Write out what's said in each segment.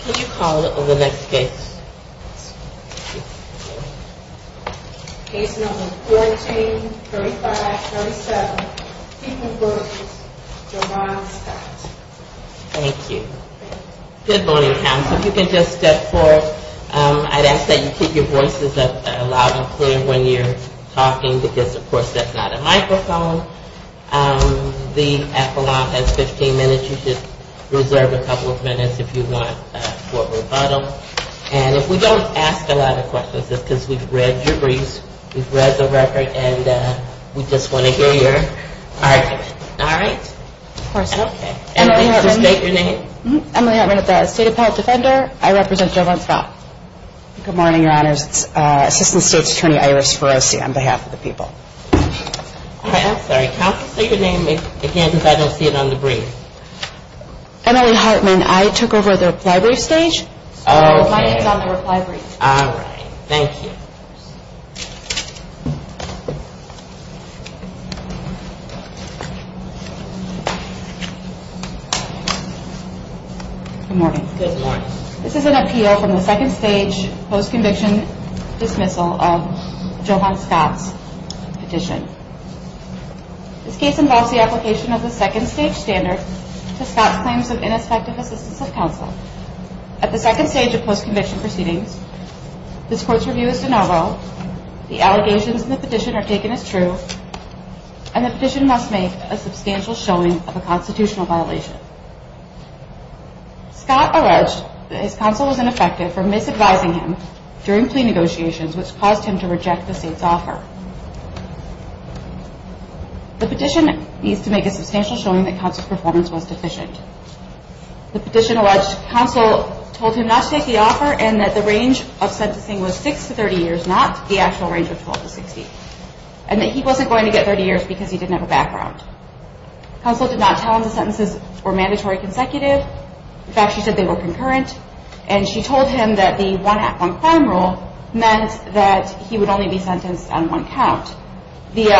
Can you call the next case. Case number 14-35-37. Thank you. Good morning counsel. You can just step forward. I'd ask that you keep your voices up loud and clear when you're talking because of course that's not a microphone. The epilogue has 15 minutes. You should reserve a couple of minutes if you want for rebuttal. And if we don't ask a lot of questions, it's because we've read your briefs, we've read the record and we just want to hear your argument. All right. Emily Hartman at the State Appellate Defender. I represent Jovan Scott. Good morning, your honors. It's Assistant State's Attorney Iris Ferrosi on behalf of the people. I'm sorry. Counsel, state your name again because I don't see it on the brief. Emily Hartman. I took over the reply brief stage. My name is on the reply brief. All right. Thank you. Good morning. This is an appeal from the second stage post-conviction dismissal of Jovan Scott's petition. This case involves the application of the second stage standard to Scott's claims of ineffective assistance of counsel. At the second stage of post-conviction proceedings, this court's review is de novo, the allegations in the petition are taken as true, and the petition must make a substantial showing of a constitutional violation. Scott alleged that his counsel was ineffective for misadvising him during plea negotiations which caused him to reject the state's offer. The petition needs to make a substantial showing that counsel's performance was deficient. The petition alleged counsel told him not to take the offer and that the range of sentencing was six to 30 years, not the actual range of 12 to 60, and that he wasn't going to get 30 years because he didn't have a background. Counsel did not tell him the sentences were mandatory consecutive. In fact, she said they were concurrent. And she told him that the one act on crime rule meant that he would only be sentenced on one count. The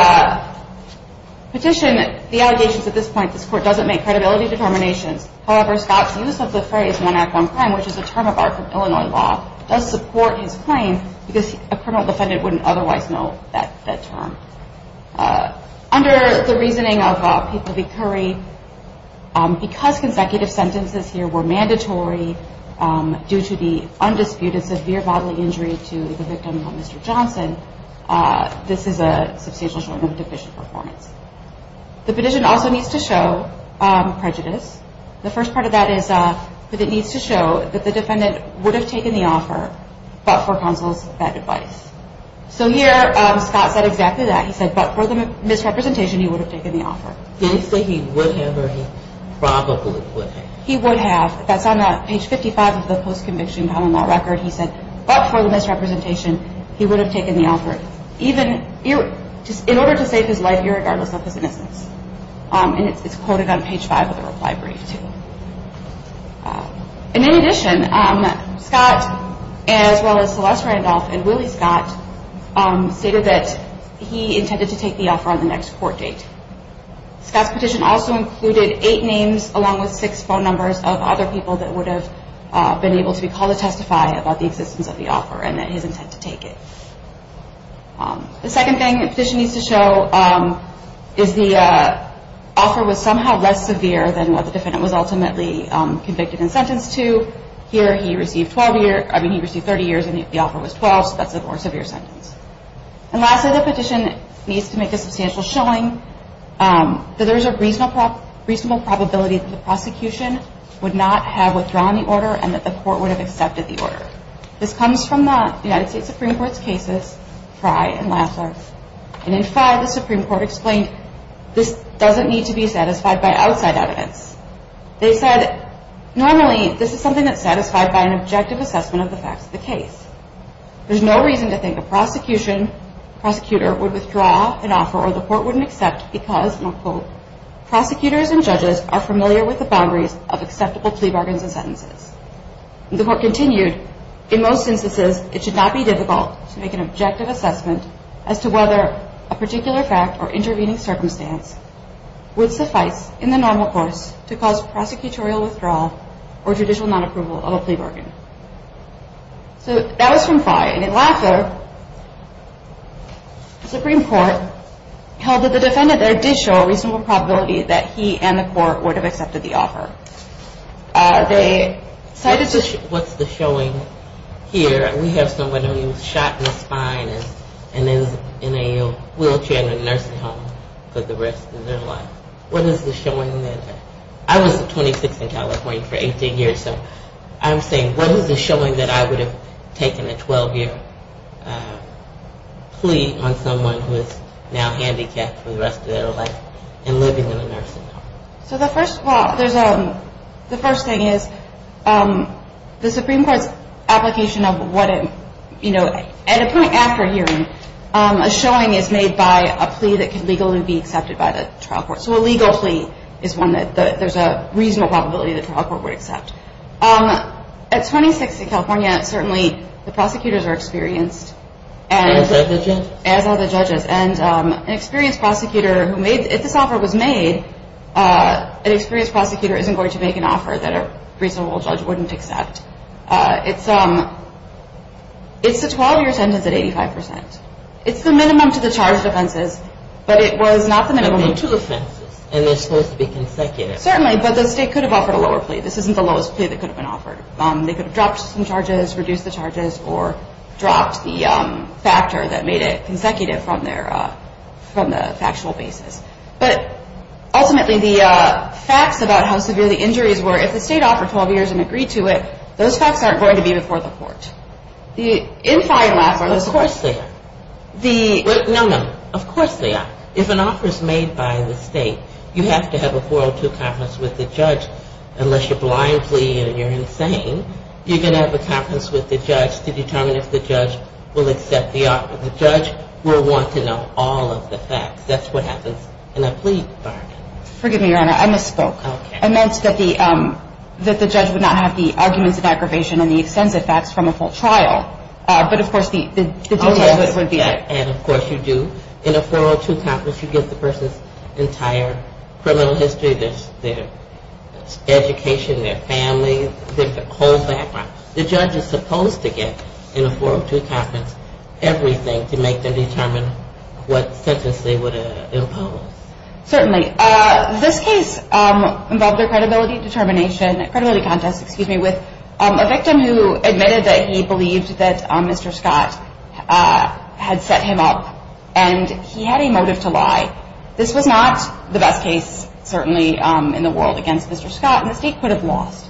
petition, the allegations at this point, this court doesn't make credibility determinations. However, Scott's use of the phrase one act on crime, which is a term of art from Illinois law, does support his claim because a criminal defendant wouldn't otherwise know that term. Under the reasoning of Peter B. Curry, because consecutive sentences here were mandatory due to the undisputed severe bodily injury to the victim, Mr. Johnson, this is a substantial showing of deficient performance. The petition also needs to show prejudice. The first part of that is that it needs to show that the defendant would have taken the offer, but for counsel's bad advice. So here, Scott said exactly that. He said, but for the misrepresentation, he would have taken the offer. Did he say he would have or he probably would have? He would have. That's on page 55 of the post-conviction common law record. He said, but for the misrepresentation, he would have taken the offer. In order to save his life, irregardless of his innocence. And it's quoted on page 5 of the reply brief too. In addition, Scott as well as Celeste Randolph and Willie Scott stated that he intended to take the offer on the next court date. Scott's petition also included eight names along with six phone numbers of other people that would have been able to be called to testify about the existence of the offer and his intent to take it. The second thing the petition needs to show is the offer was somehow less severe than what the defendant was ultimately convicted and sentenced to. Here, he received 30 years and the offer was 12, so that's a more severe sentence. And lastly, the petition needs to make a substantial showing that there is a reasonable probability that the prosecution would not have withdrawn the order and that the court would have accepted the order. This comes from the United States Supreme Court's cases, Fry and Lassler. And in five, the Supreme Court explained this doesn't need to be satisfied by outside evidence. They said, normally, this is something that's satisfied by an objective assessment of the facts of the case. There's no reason to think a prosecution, prosecutor would withdraw an offer or the court wouldn't accept because, and I'll quote, prosecutors and judges are familiar with the boundaries of acceptable plea bargains and sentences. The court continued, in most instances, it should not be difficult to make an objective assessment as to whether a particular fact or intervening circumstance would suffice in the normal course to cause prosecutorial withdrawal or judicial non-approval of a plea bargain. So that was from Fry. And in Lassler, the Supreme Court held that the defendant there did show a reasonable probability that he and the court would have accepted the offer. What's the showing here? We have someone who was shot in the spine and is in a wheelchair in a nursing home for the rest of their life. What is the showing there? I was 26 in California for 18 years, so I'm saying what is the showing that I would have taken a 12-year plea on someone who is now handicapped for the rest of their life and living in a nursing home? So the first thing is the Supreme Court's application of what it, you know, at a point after hearing, a showing is made by a plea that can legally be accepted by the trial court. So a legal plea is one that there's a reasonable probability the trial court would accept. At 26 in California, certainly the prosecutors are experienced. As are the judges. And an experienced prosecutor who made, if this offer was made, an experienced prosecutor isn't going to make an offer that a reasonable judge wouldn't accept. It's the 12-year sentence at 85%. It's the minimum to the charge of offenses, but it was not the minimum. But there are two offenses, and they're supposed to be consecutive. Certainly, but the state could have offered a lower plea. This isn't the lowest plea that could have been offered. They could have dropped some charges, reduced the charges, or dropped the factor that made it consecutive from the factual basis. But ultimately, the facts about how severe the injuries were, if the state offered 12 years and agreed to it, those facts aren't going to be before the court. The in-fine laughs are those... Of course they are. The... No, no. Of course they are. If an offer is made by the state, you have to have a 402 conference with the judge. Unless you're blindly and you're insane, you're going to have a conference with the judge to determine if the judge will accept the offer. The judge will want to know all of the facts. That's what happens in a plea bargain. Forgive me, Your Honor. I misspoke. Okay. I meant that the judge would not have the arguments of aggravation and the extensive facts from a full trial. But, of course, the details would be... Okay. And, of course, you do. In a 402 conference, you get the person's entire criminal history, their education, their family, their whole background. The judge is supposed to get in a 402 conference everything to make them determine what sentence they would impose. Certainly. This case involved a credibility contest with a victim who admitted that he believed that Mr. Scott had set him up and he had a motive to lie. This was not the best case, certainly, in the world against Mr. Scott, and the state could have lost.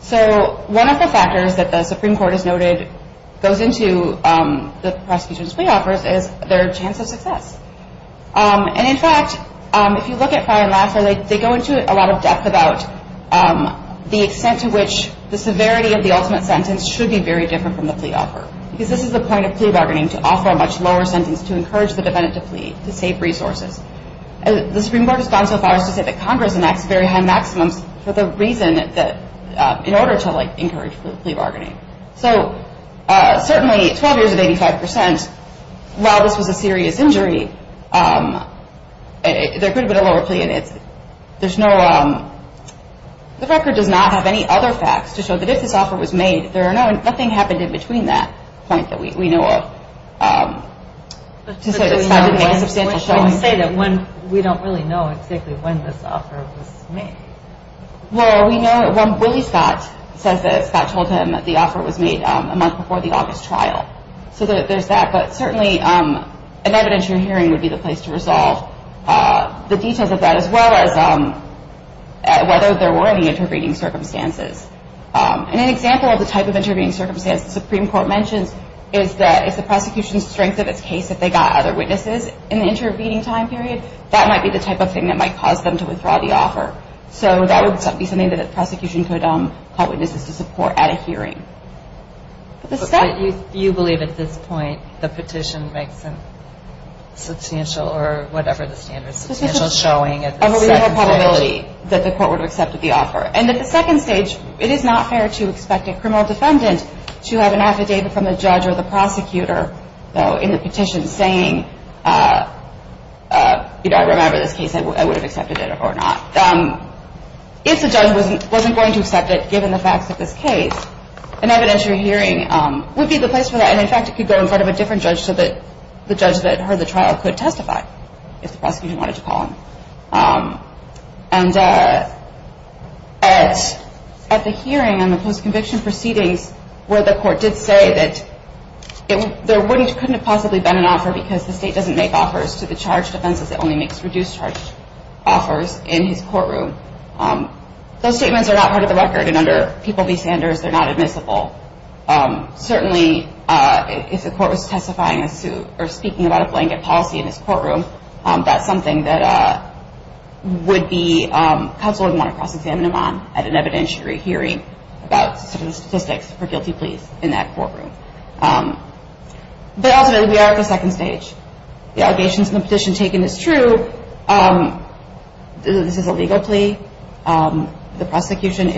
So one of the factors that the Supreme Court has noted goes into the prosecution's plea offers is their chance of success. And, in fact, if you look at prior and last, they go into a lot of depth about the extent to which the severity of the ultimate sentence should be very different from the plea offer. Because this is a point of plea bargaining to offer a much lower sentence to encourage the defendant to plead to save resources. The Supreme Court has gone so far as to say that Congress enacts very high maximums in order to encourage plea bargaining. So, certainly, 12 years of 85 percent, while this was a serious injury, there could have been a lower plea. The record does not have any other facts to show that if this offer was made, nothing happened in between that point that we know of. We can say that we don't really know exactly when this offer was made. Well, we know that when Willie Scott says that Scott told him that the offer was made a month before the August trial. So there's that. But, certainly, an evidence you're hearing would be the place to resolve the details of that, as well as whether there were any intervening circumstances. And an example of the type of intervening circumstance the Supreme Court mentions is the prosecution's strength of its case that they got other witnesses in the intervening time period. That might be the type of thing that might cause them to withdraw the offer. So that would be something that a prosecution could call witnesses to support at a hearing. But you believe at this point the petition makes a substantial, or whatever the standard is, substantial showing at the second stage. that the court would have accepted the offer. And at the second stage, it is not fair to expect a criminal defendant to have an affidavit from the judge or the prosecutor in the petition saying, you know, I remember this case. I would have accepted it or not. If the judge wasn't going to accept it, given the facts of this case, an evidence you're hearing would be the place for that. And, in fact, it could go in front of a different judge so that the judge that heard the trial could testify if the prosecution wanted to call him. And at the hearing and the post-conviction proceedings where the court did say that there couldn't have possibly been an offer because the state doesn't make offers to the charged defense that only makes reduced charge offers in his courtroom, those statements are not part of the record. And under People v. Sanders, they're not admissible. Certainly, if the court was testifying or speaking about a blanket policy in his courtroom, that's something that would be counsel would want to cross-examine him on at an evidentiary hearing about some of the statistics for guilty pleas in that courtroom. But ultimately, we are at the second stage. The allegations in the petition taken is true. This is a legal plea. The prosecution,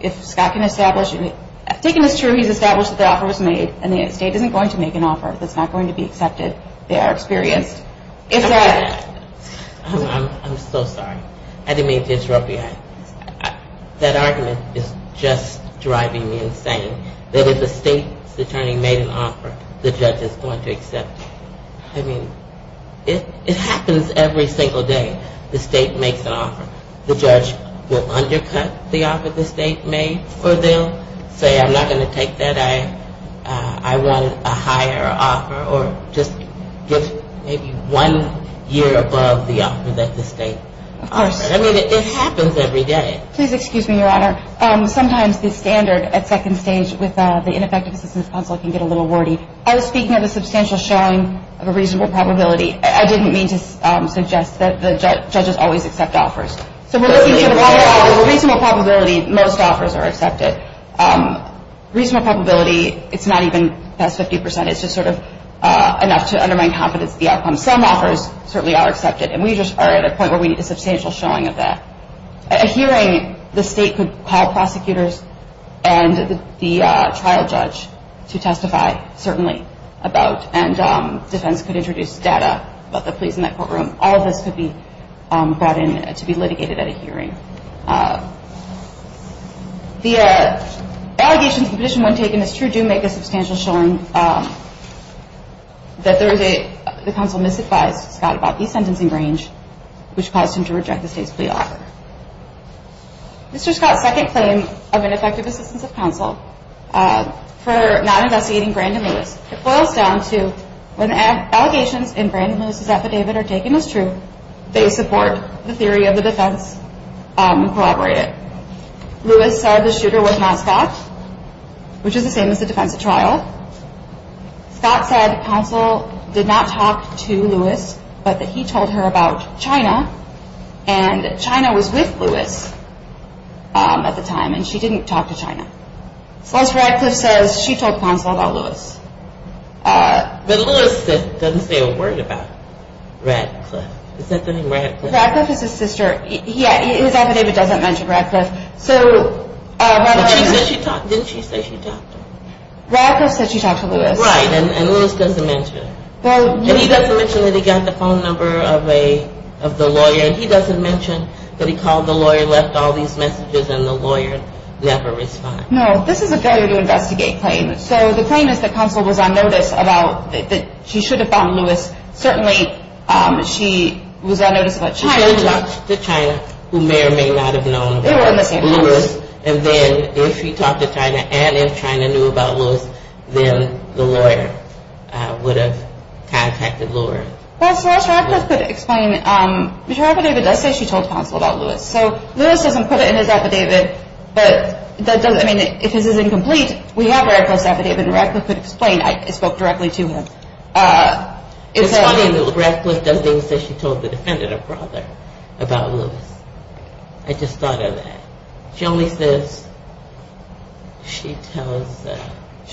if Scott can establish, taken as true, he's established that the offer was made and the state isn't going to make an offer that's not going to be accepted. They are experienced. I'm so sorry. I didn't mean to interrupt you. That argument is just driving me insane, that if the state's attorney made an offer, the judge is going to accept it. I mean, it happens every single day. The state makes an offer. The judge will undercut the offer the state made or they'll say, I'm not going to take that. I want a higher offer or just maybe one year above the offer that the state offered. I mean, it happens every day. Please excuse me, Your Honor. Sometimes the standard at second stage with the ineffective assistance counsel can get a little wordy. I was speaking of a substantial showing of a reasonable probability. I didn't mean to suggest that the judges always accept offers. So we're looking for a reasonable probability most offers are accepted. Reasonable probability, it's not even past 50%. It's just sort of enough to undermine confidence in the outcome. Some offers certainly are accepted, and we just are at a point where we need a substantial showing of that. A hearing, the state could call prosecutors and the trial judge to testify, certainly, about, and defense could introduce data about the police in that courtroom. All of this could be brought in to be litigated at a hearing. The allegations of the petition when taken as true do make a substantial showing that the counsel misadvised Scott about the sentencing range, which caused him to reject the state's plea offer. Mr. Scott's second claim of ineffective assistance of counsel for not investigating Brandon Lewis, it boils down to when allegations in Brandon Lewis' affidavit are taken as true, they support the theory of the defense and collaborate it. Lewis said the shooter was not Scott, which is the same as the defense at trial. Scott said counsel did not talk to Lewis, but that he told her about China, and that China was with Lewis at the time, and she didn't talk to China. Unless Radcliffe says she told counsel about Lewis. But Lewis doesn't say a word about Radcliffe. Radcliffe is his sister. His affidavit doesn't mention Radcliffe. Didn't she say she talked to him? Radcliffe said she talked to Lewis. Right, and Lewis doesn't mention. And he doesn't mention that he got the phone number of the lawyer, and he doesn't mention that he called the lawyer and left all these messages, and the lawyer never responded. No, this is a failure to investigate claim. So the claim is that counsel was on notice about that she should have found Lewis. Certainly she was on notice about China. She should have talked to China, who may or may not have known about Lewis. They were in the same house. And then if she talked to China and if China knew about Lewis, then the lawyer would have contacted Lewis. So as Radcliffe could explain, her affidavit does say she told counsel about Lewis. So Lewis doesn't put it in his affidavit. But if this is incomplete, we have Radcliffe's affidavit, and Radcliffe could explain. I spoke directly to him. It's funny that Radcliffe doesn't even say she told the defendant, her brother, about Lewis. I just thought of that. She only says she tells the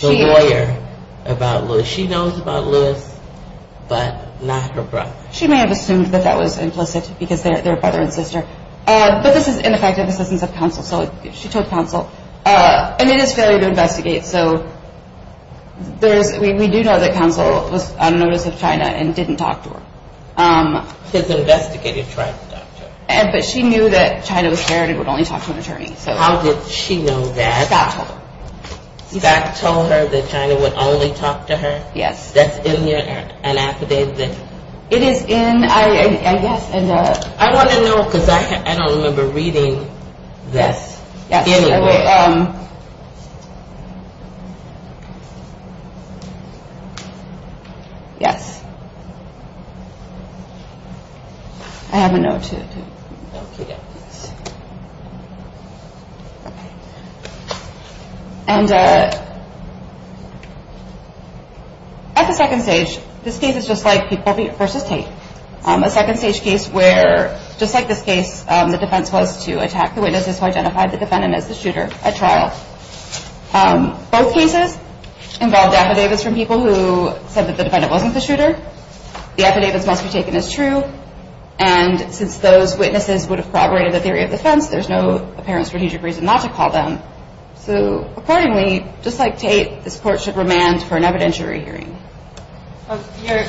lawyer about Lewis. So she knows about Lewis, but not her brother. She may have assumed that that was implicit because they're brother and sister. But this is ineffective assistance of counsel. So she told counsel. And it is a failure to investigate. So we do know that counsel was on notice of China and didn't talk to her. His investigator tried to talk to her. But she knew that China was scared and would only talk to an attorney. How did she know that? Scott told her. That China would only talk to her? Yes. That's in your affidavit? It is in, I guess. I want to know because I don't remember reading this anywhere. Yes. Okay. Yes. I have a note too. Okay. And at the second stage, this case is just like Peoples v. Tate. A second stage case where, just like this case, the defense was to attack the witnesses who identified the defendant as the shooter at trial. Both cases involved affidavits from people who said that the defendant wasn't the shooter. The affidavits must be taken as true. And since those witnesses would have corroborated the theory of defense, there's no apparent strategic reason not to call them. So accordingly, just like Tate, this court should remand for an evidentiary hearing.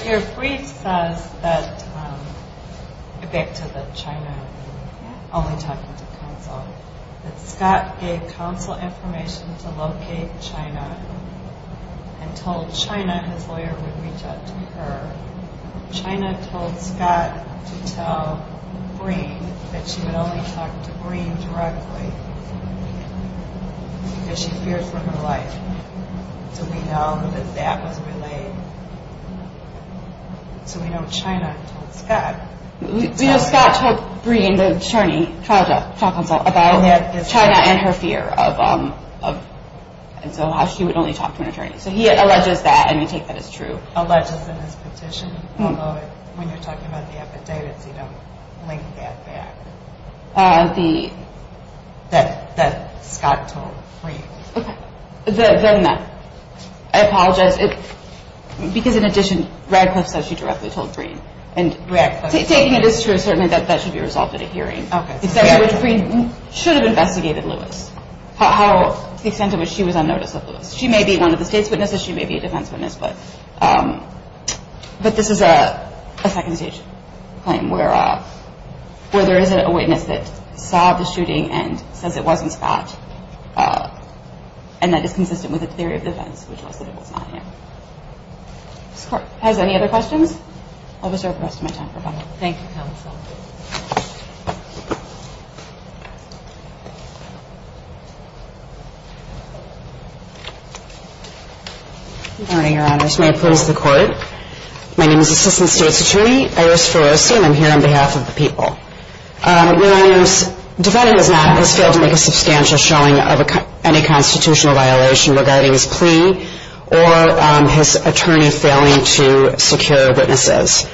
Your brief says that, back to the China only talking to counsel, that Scott gave counsel information to locate China and told China his lawyer would reach out to her. China told Scott to tell Breen that she would only talk to Breen directly because she feared for her life. So we know that that was relayed. So we know China told Scott. We know Scott told Breen, the attorney, trial counsel, about China and her fear of, and so how she would only talk to an attorney. So he alleges that and we take that as true. He alleges in his petition, although when you're talking about the affidavits, you don't link that back. That Scott told Breen. I apologize. Because in addition, Radcliffe said she directly told Breen. Taking it as true, certainly that should be resolved at a hearing. Breen should have investigated Lewis, the extent to which she was on notice of Lewis. She may be one of the state's witnesses. She may be a defense witness. But this is a second-stage claim where there is a witness that saw the shooting and says it wasn't Scott and that is consistent with the theory of defense, which was that it was not him. This court has any other questions? I'll reserve the rest of my time for final. Thank you, counsel. Good morning, Your Honors. May I please the court? My name is Assistant State's Attorney Iris Ferrosi and I'm here on behalf of the people. Your Honors, the defendant has failed to make a substantial showing of any constitutional violation regarding his plea or his attorney failing to secure witnesses.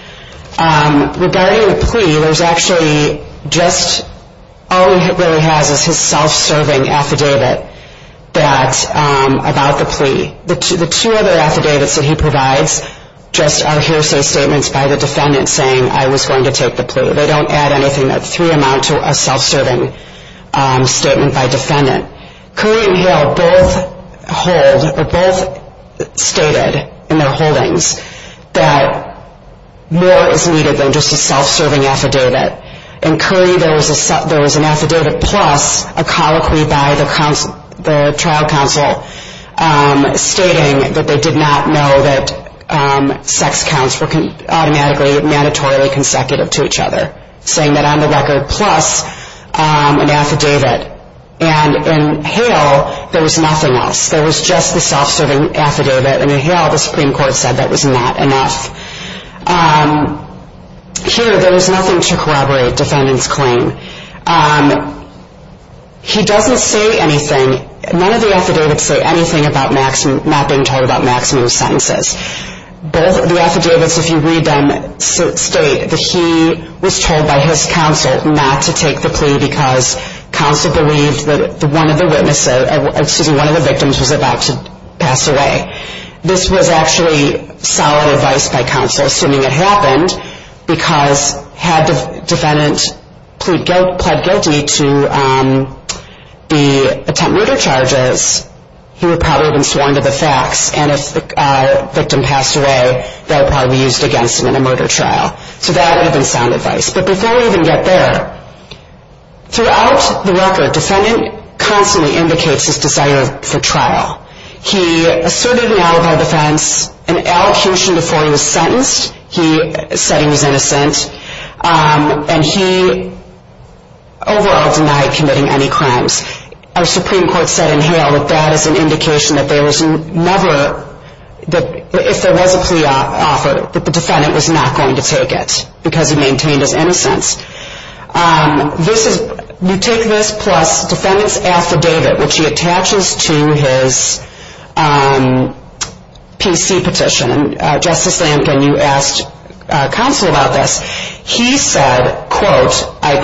Regarding the plea, there's actually just all he really has is his self-serving affidavit about the plea. The two other affidavits that he provides just are hearsay statements by the defendant saying, I was going to take the plea. They don't add anything. That three amount to a self-serving statement by defendant. Curry and Hill both hold or both stated in their holdings that more is needed than just a self-serving affidavit. In Curry, there was an affidavit plus a colloquy by the trial counsel stating that they did not know that sex counts were automatically mandatorily consecutive to each other, saying that on the record plus an affidavit. And in Hill, there was nothing else. There was just the self-serving affidavit. And in Hill, the Supreme Court said that was not enough. Here, there was nothing to corroborate defendant's claim. He doesn't say anything. None of the affidavits say anything about not being told about maximum sentences. Both of the affidavits, if you read them, state that he was told by his counsel not to take the plea because counsel believed that one of the victims was about to pass away. This was actually solid advice by counsel, assuming it happened, because had the defendant pled guilty to the attempt murder charges, he would probably have been sworn to the facts. And if the victim passed away, they would probably be used against him in a murder trial. So that would have been sound advice. But before we even get there, throughout the record, defendant constantly indicates his desire for trial. He asserted an alibi defense, an allocution before he was sentenced. He said he was innocent. And he overall denied committing any crimes. Our Supreme Court said in Hill that that is an indication that there was never, if there was a plea offer, that the defendant was not going to take it because he maintained his innocence. You take this plus defendant's affidavit, which he attaches to his PC petition. Justice Lampkin, you asked counsel about this. He said, quote, I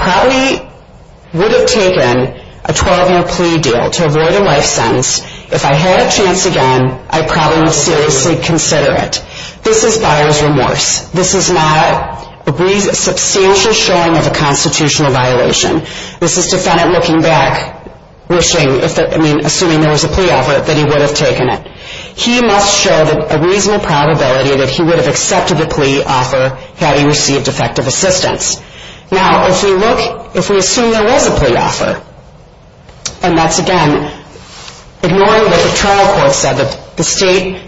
probably would have taken a 12-year plea deal to avoid a life sentence. If I had a chance again, I probably would seriously consider it. This is buyer's remorse. This is not a substantial showing of a constitutional violation. This is defendant looking back, assuming there was a plea offer, that he would have taken it. He must show a reasonable probability that he would have accepted the plea offer had he received effective assistance. Now, if we look, if we assume there was a plea offer, and that's, again, ignoring what the trial court said, that the state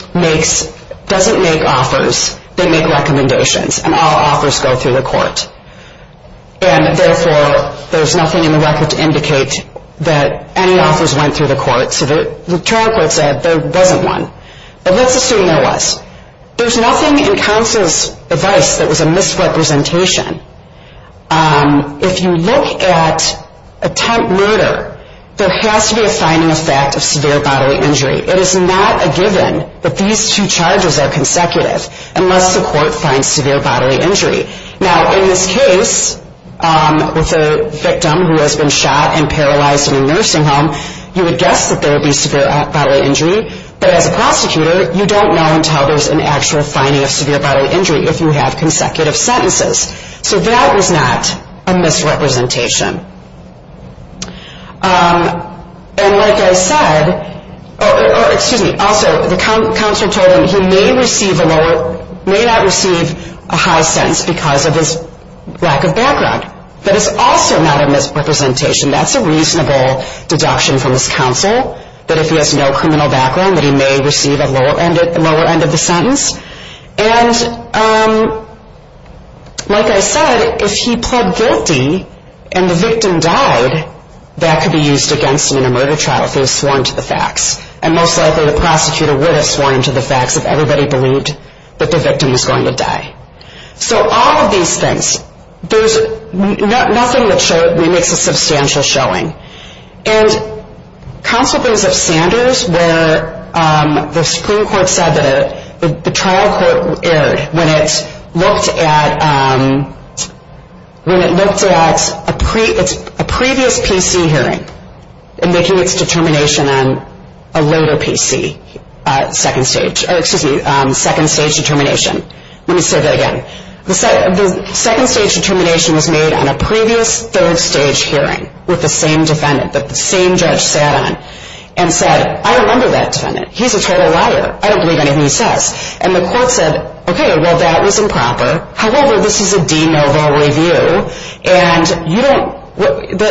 doesn't make offers, they make recommendations, and all offers go through the court. And therefore, there's nothing in the record to indicate that any offers went through the court. So the trial court said there wasn't one. But let's assume there was. There's nothing in counsel's advice that was a misrepresentation. If you look at attempt murder, there has to be a finding of fact of severe bodily injury. It is not a given that these two charges are consecutive unless the court finds severe bodily injury. Now, in this case, with a victim who has been shot and paralyzed in a nursing home, you would guess that there would be severe bodily injury. But as a prosecutor, you don't know until there's an actual finding of severe bodily injury if you have consecutive sentences. So that was not a misrepresentation. And like I said... Oh, excuse me. Also, the counsel told him he may not receive a high sentence because of his lack of background. But it's also not a misrepresentation. That's a reasonable deduction from this counsel, that if he has no criminal background, that he may receive a lower end of the sentence. And like I said, if he pled guilty and the victim died, that could be used against him in a murder trial if he was sworn to the facts. And most likely the prosecutor would have sworn him to the facts if everybody believed that the victim was going to die. So all of these things... Nothing that makes a substantial showing. And counsel brings up Sanders, where the Supreme Court said that the trial court erred when it looked at a previous PC hearing and making its determination on a later PC, second stage determination. Let me say that again. The second stage determination was made on a previous third stage hearing with the same defendant that the same judge sat on and said, I don't remember that defendant. He's a total liar. I don't believe anything he says. And the court said, okay, well, that was improper. However, this is a de novo review, and you don't...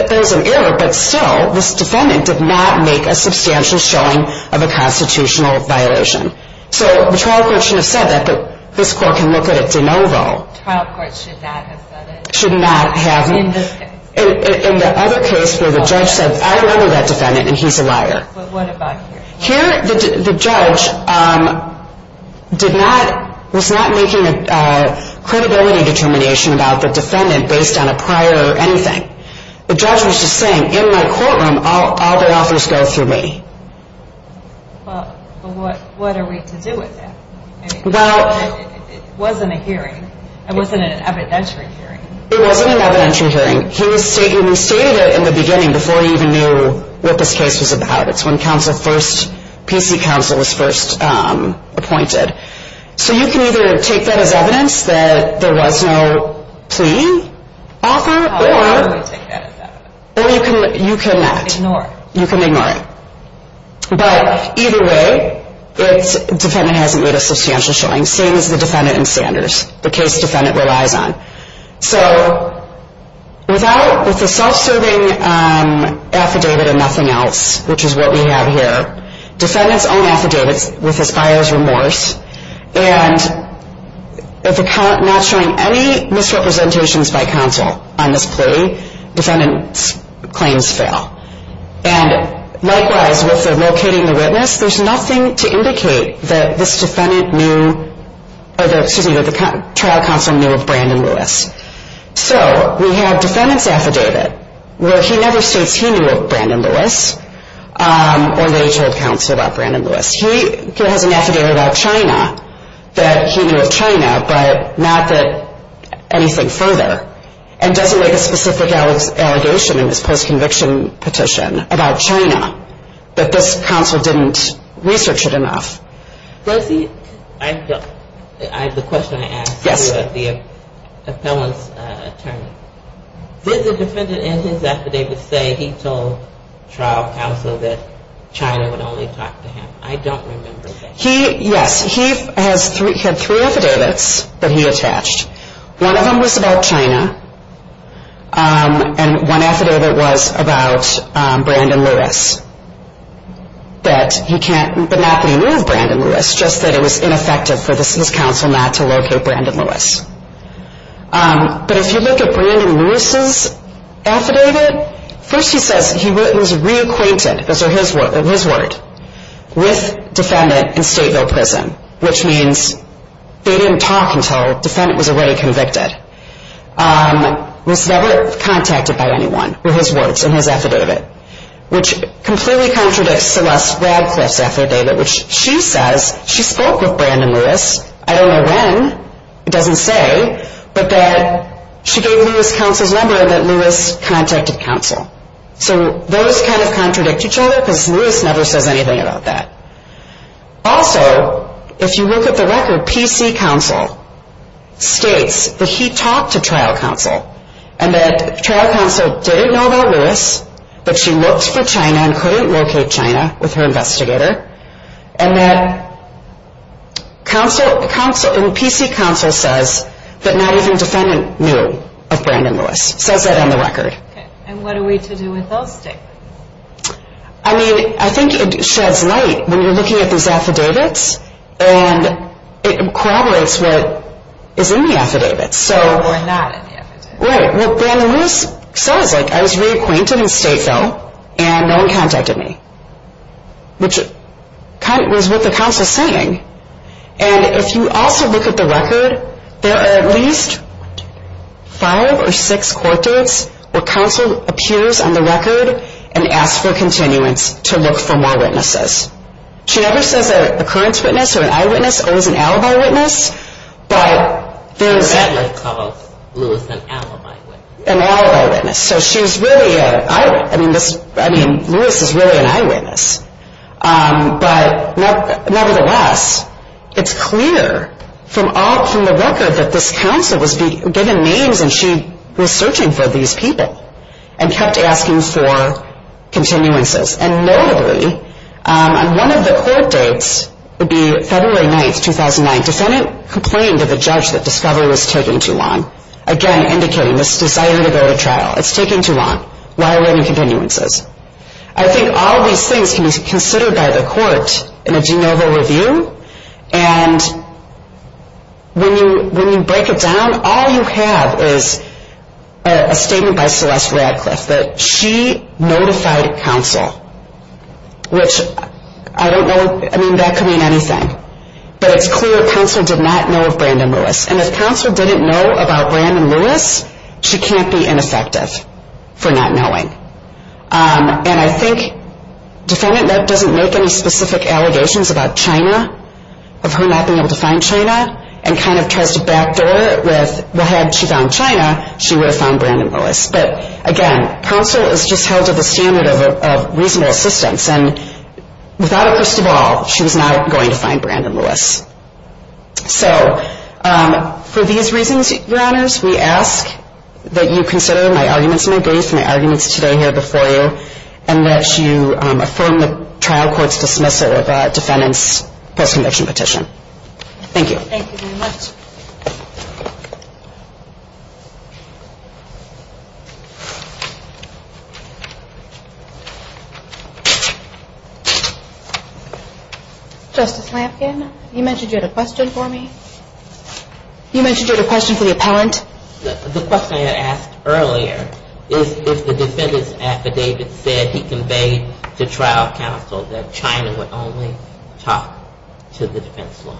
There's an error, but still, this defendant did not make a substantial showing of a constitutional violation. So the trial court should have said that, but this court can look at it de novo. The trial court should not have said it. Should not have. In this case. In the other case where the judge said, I don't remember that defendant, and he's a liar. But what about here? Here, the judge did not... was not making a credibility determination about the defendant based on a prior or anything. The judge was just saying, in my courtroom, all the authors go through me. Well, but what are we to do with that? Well... It wasn't a hearing. It wasn't an evidentiary hearing. It wasn't an evidentiary hearing. He stated it in the beginning before he even knew what this case was about. It's when counsel first... PC counsel was first appointed. So you can either take that as evidence that there was no plea offer, or... How do I take that as evidence? You can not. Ignore it. You can ignore it. But either way, the defendant hasn't made a substantial showing, same as the defendant in Sanders, the case the defendant relies on. So without... with the self-serving affidavit and nothing else, which is what we have here, defendant's own affidavit with his buyer's remorse, and not showing any misrepresentations by counsel on this plea, defendant's claims fail. And likewise, with the locating the witness, there's nothing to indicate that this defendant knew... excuse me, that the trial counsel knew of Brandon Lewis. So we have defendant's affidavit where he never states he knew of Brandon Lewis, or they told counsel about Brandon Lewis. He has an affidavit about China that he knew of China, but not that... anything further. And doesn't make a specific allegation in this post-conviction petition about China, that this counsel didn't research it enough. Does he... I don't... the question I asked... Yes. ...the appellant's attorney. Did the defendant in his affidavit say he told trial counsel that China would only talk to him? I don't remember that. He... yes. He has three... he had three affidavits that he attached. One of them was about China, and one affidavit was about Brandon Lewis, that he can't... but not that he knew of Brandon Lewis, just that it was ineffective for this counsel not to locate Brandon Lewis. But if you look at Brandon Lewis's affidavit, first he says he was reacquainted, those are his words, with defendant in Stateville Prison, which means they didn't talk until defendant was already convicted. Was never contacted by anyone, were his words in his affidavit, which completely contradicts Celeste Radcliffe's affidavit, which she says she spoke with Brandon Lewis, I don't know when, it doesn't say, but that she gave Lewis counsel's number and that Lewis contacted counsel. So those kind of contradict each other because Lewis never says anything about that. Also, if you look at the record, where PC counsel states that he talked to trial counsel and that trial counsel didn't know about Lewis, but she looked for China and couldn't locate China with her investigator, and that PC counsel says that not even defendant knew of Brandon Lewis, says that on the record. And what are we to do with those statements? I mean, I think it sheds light when you're looking at these affidavits and it corroborates what is in the affidavit. Or not in the affidavit. Right, well, Brandon Lewis says, like, I was reacquainted in Stateville and no one contacted me, which was what the counsel's saying. And if you also look at the record, there are at least five or six court dates where counsel appears on the record and asks for continuance to look for more witnesses. She never says an occurrence witness or an eyewitness, always an alibi witness, but there's... The defendant called Lewis an alibi witness. An alibi witness. So she's really an eyewitness. I mean, Lewis is really an eyewitness. But nevertheless, it's clear from the record that this counsel was given names and she was searching for these people and kept asking for continuances. And notably, on one of the court dates, it would be February 9, 2009, defendant complained to the judge that discovery was taking too long. Again, indicating this is deciding to go to trial. It's taking too long. Why are there any continuances? I think all these things can be considered by the court in a de novo review, and when you break it down, all you have is a statement by Celeste Radcliffe that she notified counsel, which I don't know... I mean, that could mean anything. But it's clear counsel did not know of Brandon Lewis. And if counsel didn't know about Brandon Lewis, she can't be ineffective for not knowing. And I think defendant, that doesn't make any specific allegations about China, of her not being able to find China, and kind of tries to backdoor with, well, had she found China, she would have found Brandon Lewis. But again, counsel is just held to the standard of reasonable assistance. And without it, first of all, she was not going to find Brandon Lewis. So for these reasons, Your Honors, we ask that you consider my arguments in my brief, my arguments today here before you, and that you affirm the trial court's dismissal of defendant's post-conviction petition. Thank you. Thank you very much. Justice Lampkin, you mentioned you had a question for me. You mentioned you had a question for the appellant. The question I had asked earlier, is if the defendant's affidavit said he conveyed to trial counsel that China would only talk to the defense lawyer.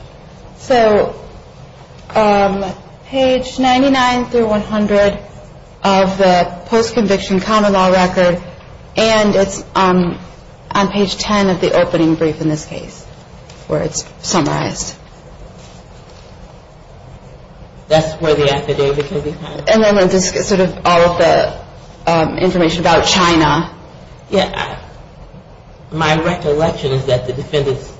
So, page 99 through 100 of the defense law, that post-conviction common law record, and it's on page 10 of the opening brief in this case, where it's summarized. That's where the affidavit can be found. And then sort of all of the information about China. Yeah. My recollection is that the defendant's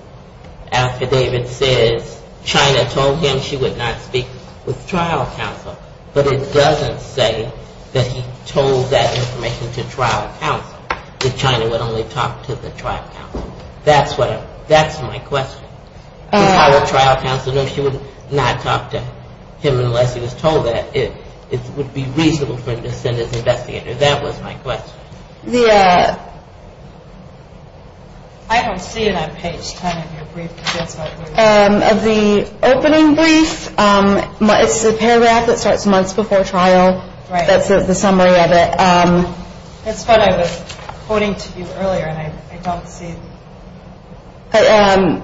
affidavit says China told him she would not speak with trial counsel, but it doesn't say that he told that information to trial counsel, that China would only talk to the trial counsel. That's my question. If I were trial counsel, no, she would not talk to him unless he was told that. It would be reasonable for him to send his investigator. That was my question. I don't see it on page 10 of your brief. Of the opening brief, it's the paragraph that starts months before trial. That's the summary of it. That's what I was quoting to you earlier, and I don't see it.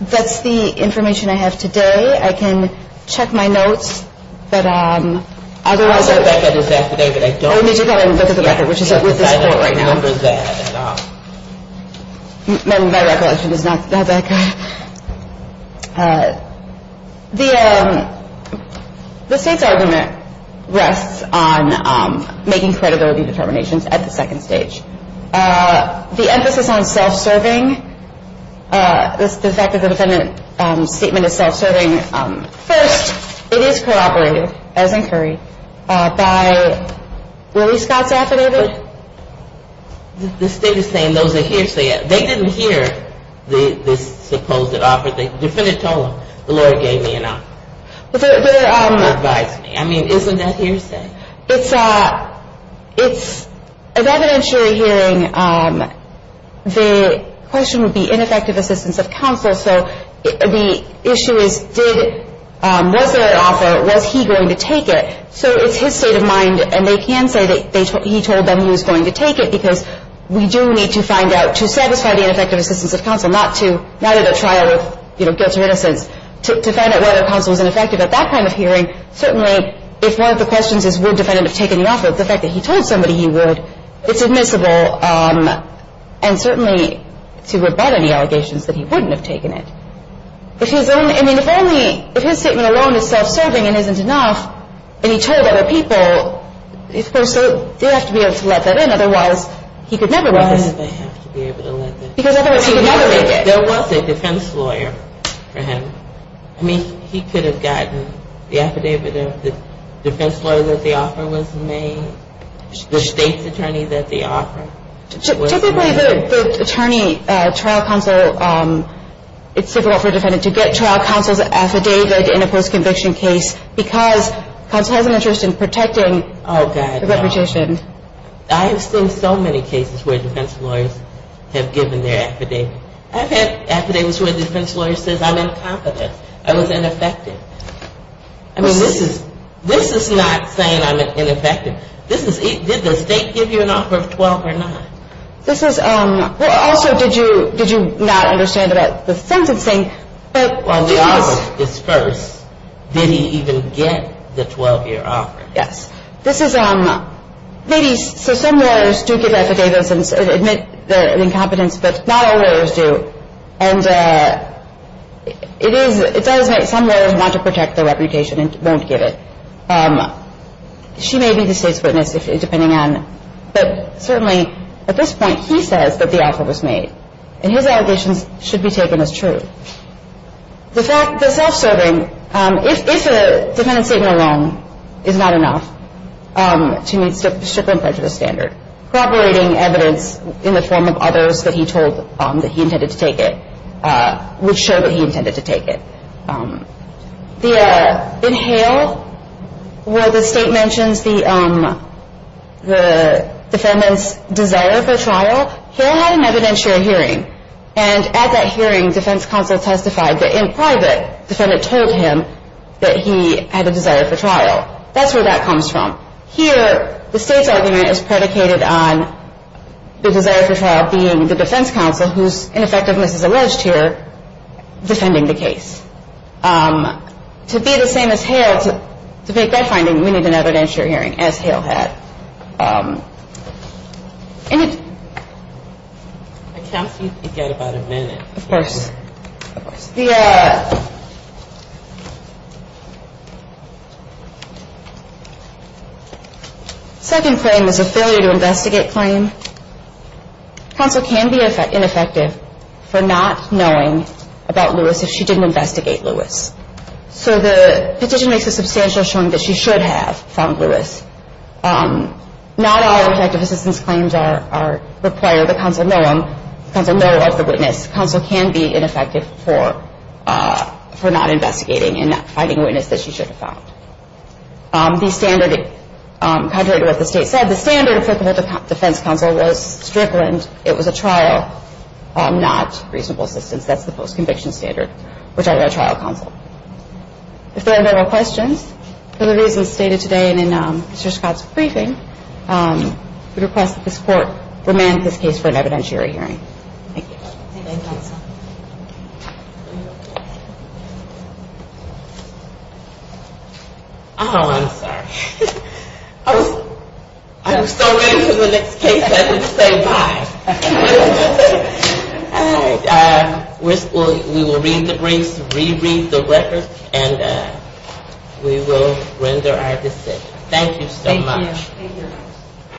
That's the information I have today. I can check my notes. I don't remember that at all. My recollection is not that good. The State's argument rests on making credibility determinations at the second stage. The emphasis on self-serving, the fact that the defendant's statement is self-serving, first, it is corroborated, as incurred, by Willie Scott's affidavit. The State is saying those are hearsay. They didn't hear this supposed offer. The defendant told them, the lawyer gave me an offer. He advised me. I mean, isn't that hearsay? It's an evidentiary hearing. The question would be ineffective assistance of counsel. So the issue is, was there an offer? Was he going to take it? So it's his state of mind, and they can say that he told them he was going to take it, because we do need to find out, to satisfy the ineffective assistance of counsel, not at a trial of guilt or innocence, to find out whether counsel is ineffective at that kind of hearing. Certainly, if one of the questions is, would the defendant have taken the offer, the fact that he told somebody he would, it's admissible, and certainly to rebut any allegations that he wouldn't have taken it. I mean, if only, if his statement alone is self-serving and isn't enough, and he told other people, they'd have to be able to let that in. Otherwise, he could never make it. Why would they have to be able to let that in? Because otherwise he would never make it. There was a defense lawyer for him. I mean, he could have gotten the affidavit of the defense lawyer that the offer was made, the State's attorney that the offer was made. Typically, the attorney, trial counsel, it's difficult for a defendant to get trial counsel's affidavit in a post-conviction case because counsel has an interest in protecting the reputation. Oh, God, no. I have seen so many cases where defense lawyers have given their affidavit. I've had affidavits where the defense lawyer says, I'm incompetent. I was ineffective. I mean, this is not saying I'm ineffective. Did the State give you an offer of 12 or 9? Also, did you not understand about the sentencing? Well, the offer was disbursed. Did he even get the 12-year offer? Yes. So some lawyers do give affidavits and admit their incompetence, but not all lawyers do, and it does make some lawyers want to protect their reputation and won't give it. She may be the State's witness, depending on, but certainly at this point, he says that the offer was made, and his allegations should be taken as true. The self-serving, if a defendant's statement alone is not enough to meet stricter and prejudiced standard, corroborating evidence in the form of others that he told that he intended to take it, would show that he intended to take it. In Hale, where the State mentions the defendant's desire for trial, Hale had an evidentiary hearing, and at that hearing, defense counsel testified that in private, the defendant told him that he had a desire for trial. That's where that comes from. Here, the State's argument is predicated on the desire for trial being the defense counsel, whose ineffectiveness is alleged here, defending the case. To be the same as Hale, to make that finding, we need an evidentiary hearing, as Hale had. I count you to get about a minute. Of course. Of course. The second claim is a failure to investigate claim. Counsel can be ineffective for not knowing about Lewis if she didn't investigate Lewis. So the petition makes a substantial showing that she should have found Lewis. Not all effective assistance claims require that counsel know of the witness. Counsel can be ineffective for not investigating and not finding a witness that she should have found. The standard, contrary to what the State said, the standard applicable to defense counsel was strickland. It was a trial, not reasonable assistance. That's the post-conviction standard. We're talking about trial counsel. If there are no more questions, for the reasons stated today and in Mr. Scott's briefing, we request that this Court remand his case for an evidentiary hearing. Thank you. Thank you, counsel. Oh, I'm sorry. I was still waiting for the next case. I didn't say bye. We will read the briefs, reread the records, and we will render our decision. Thank you so much. Thank you.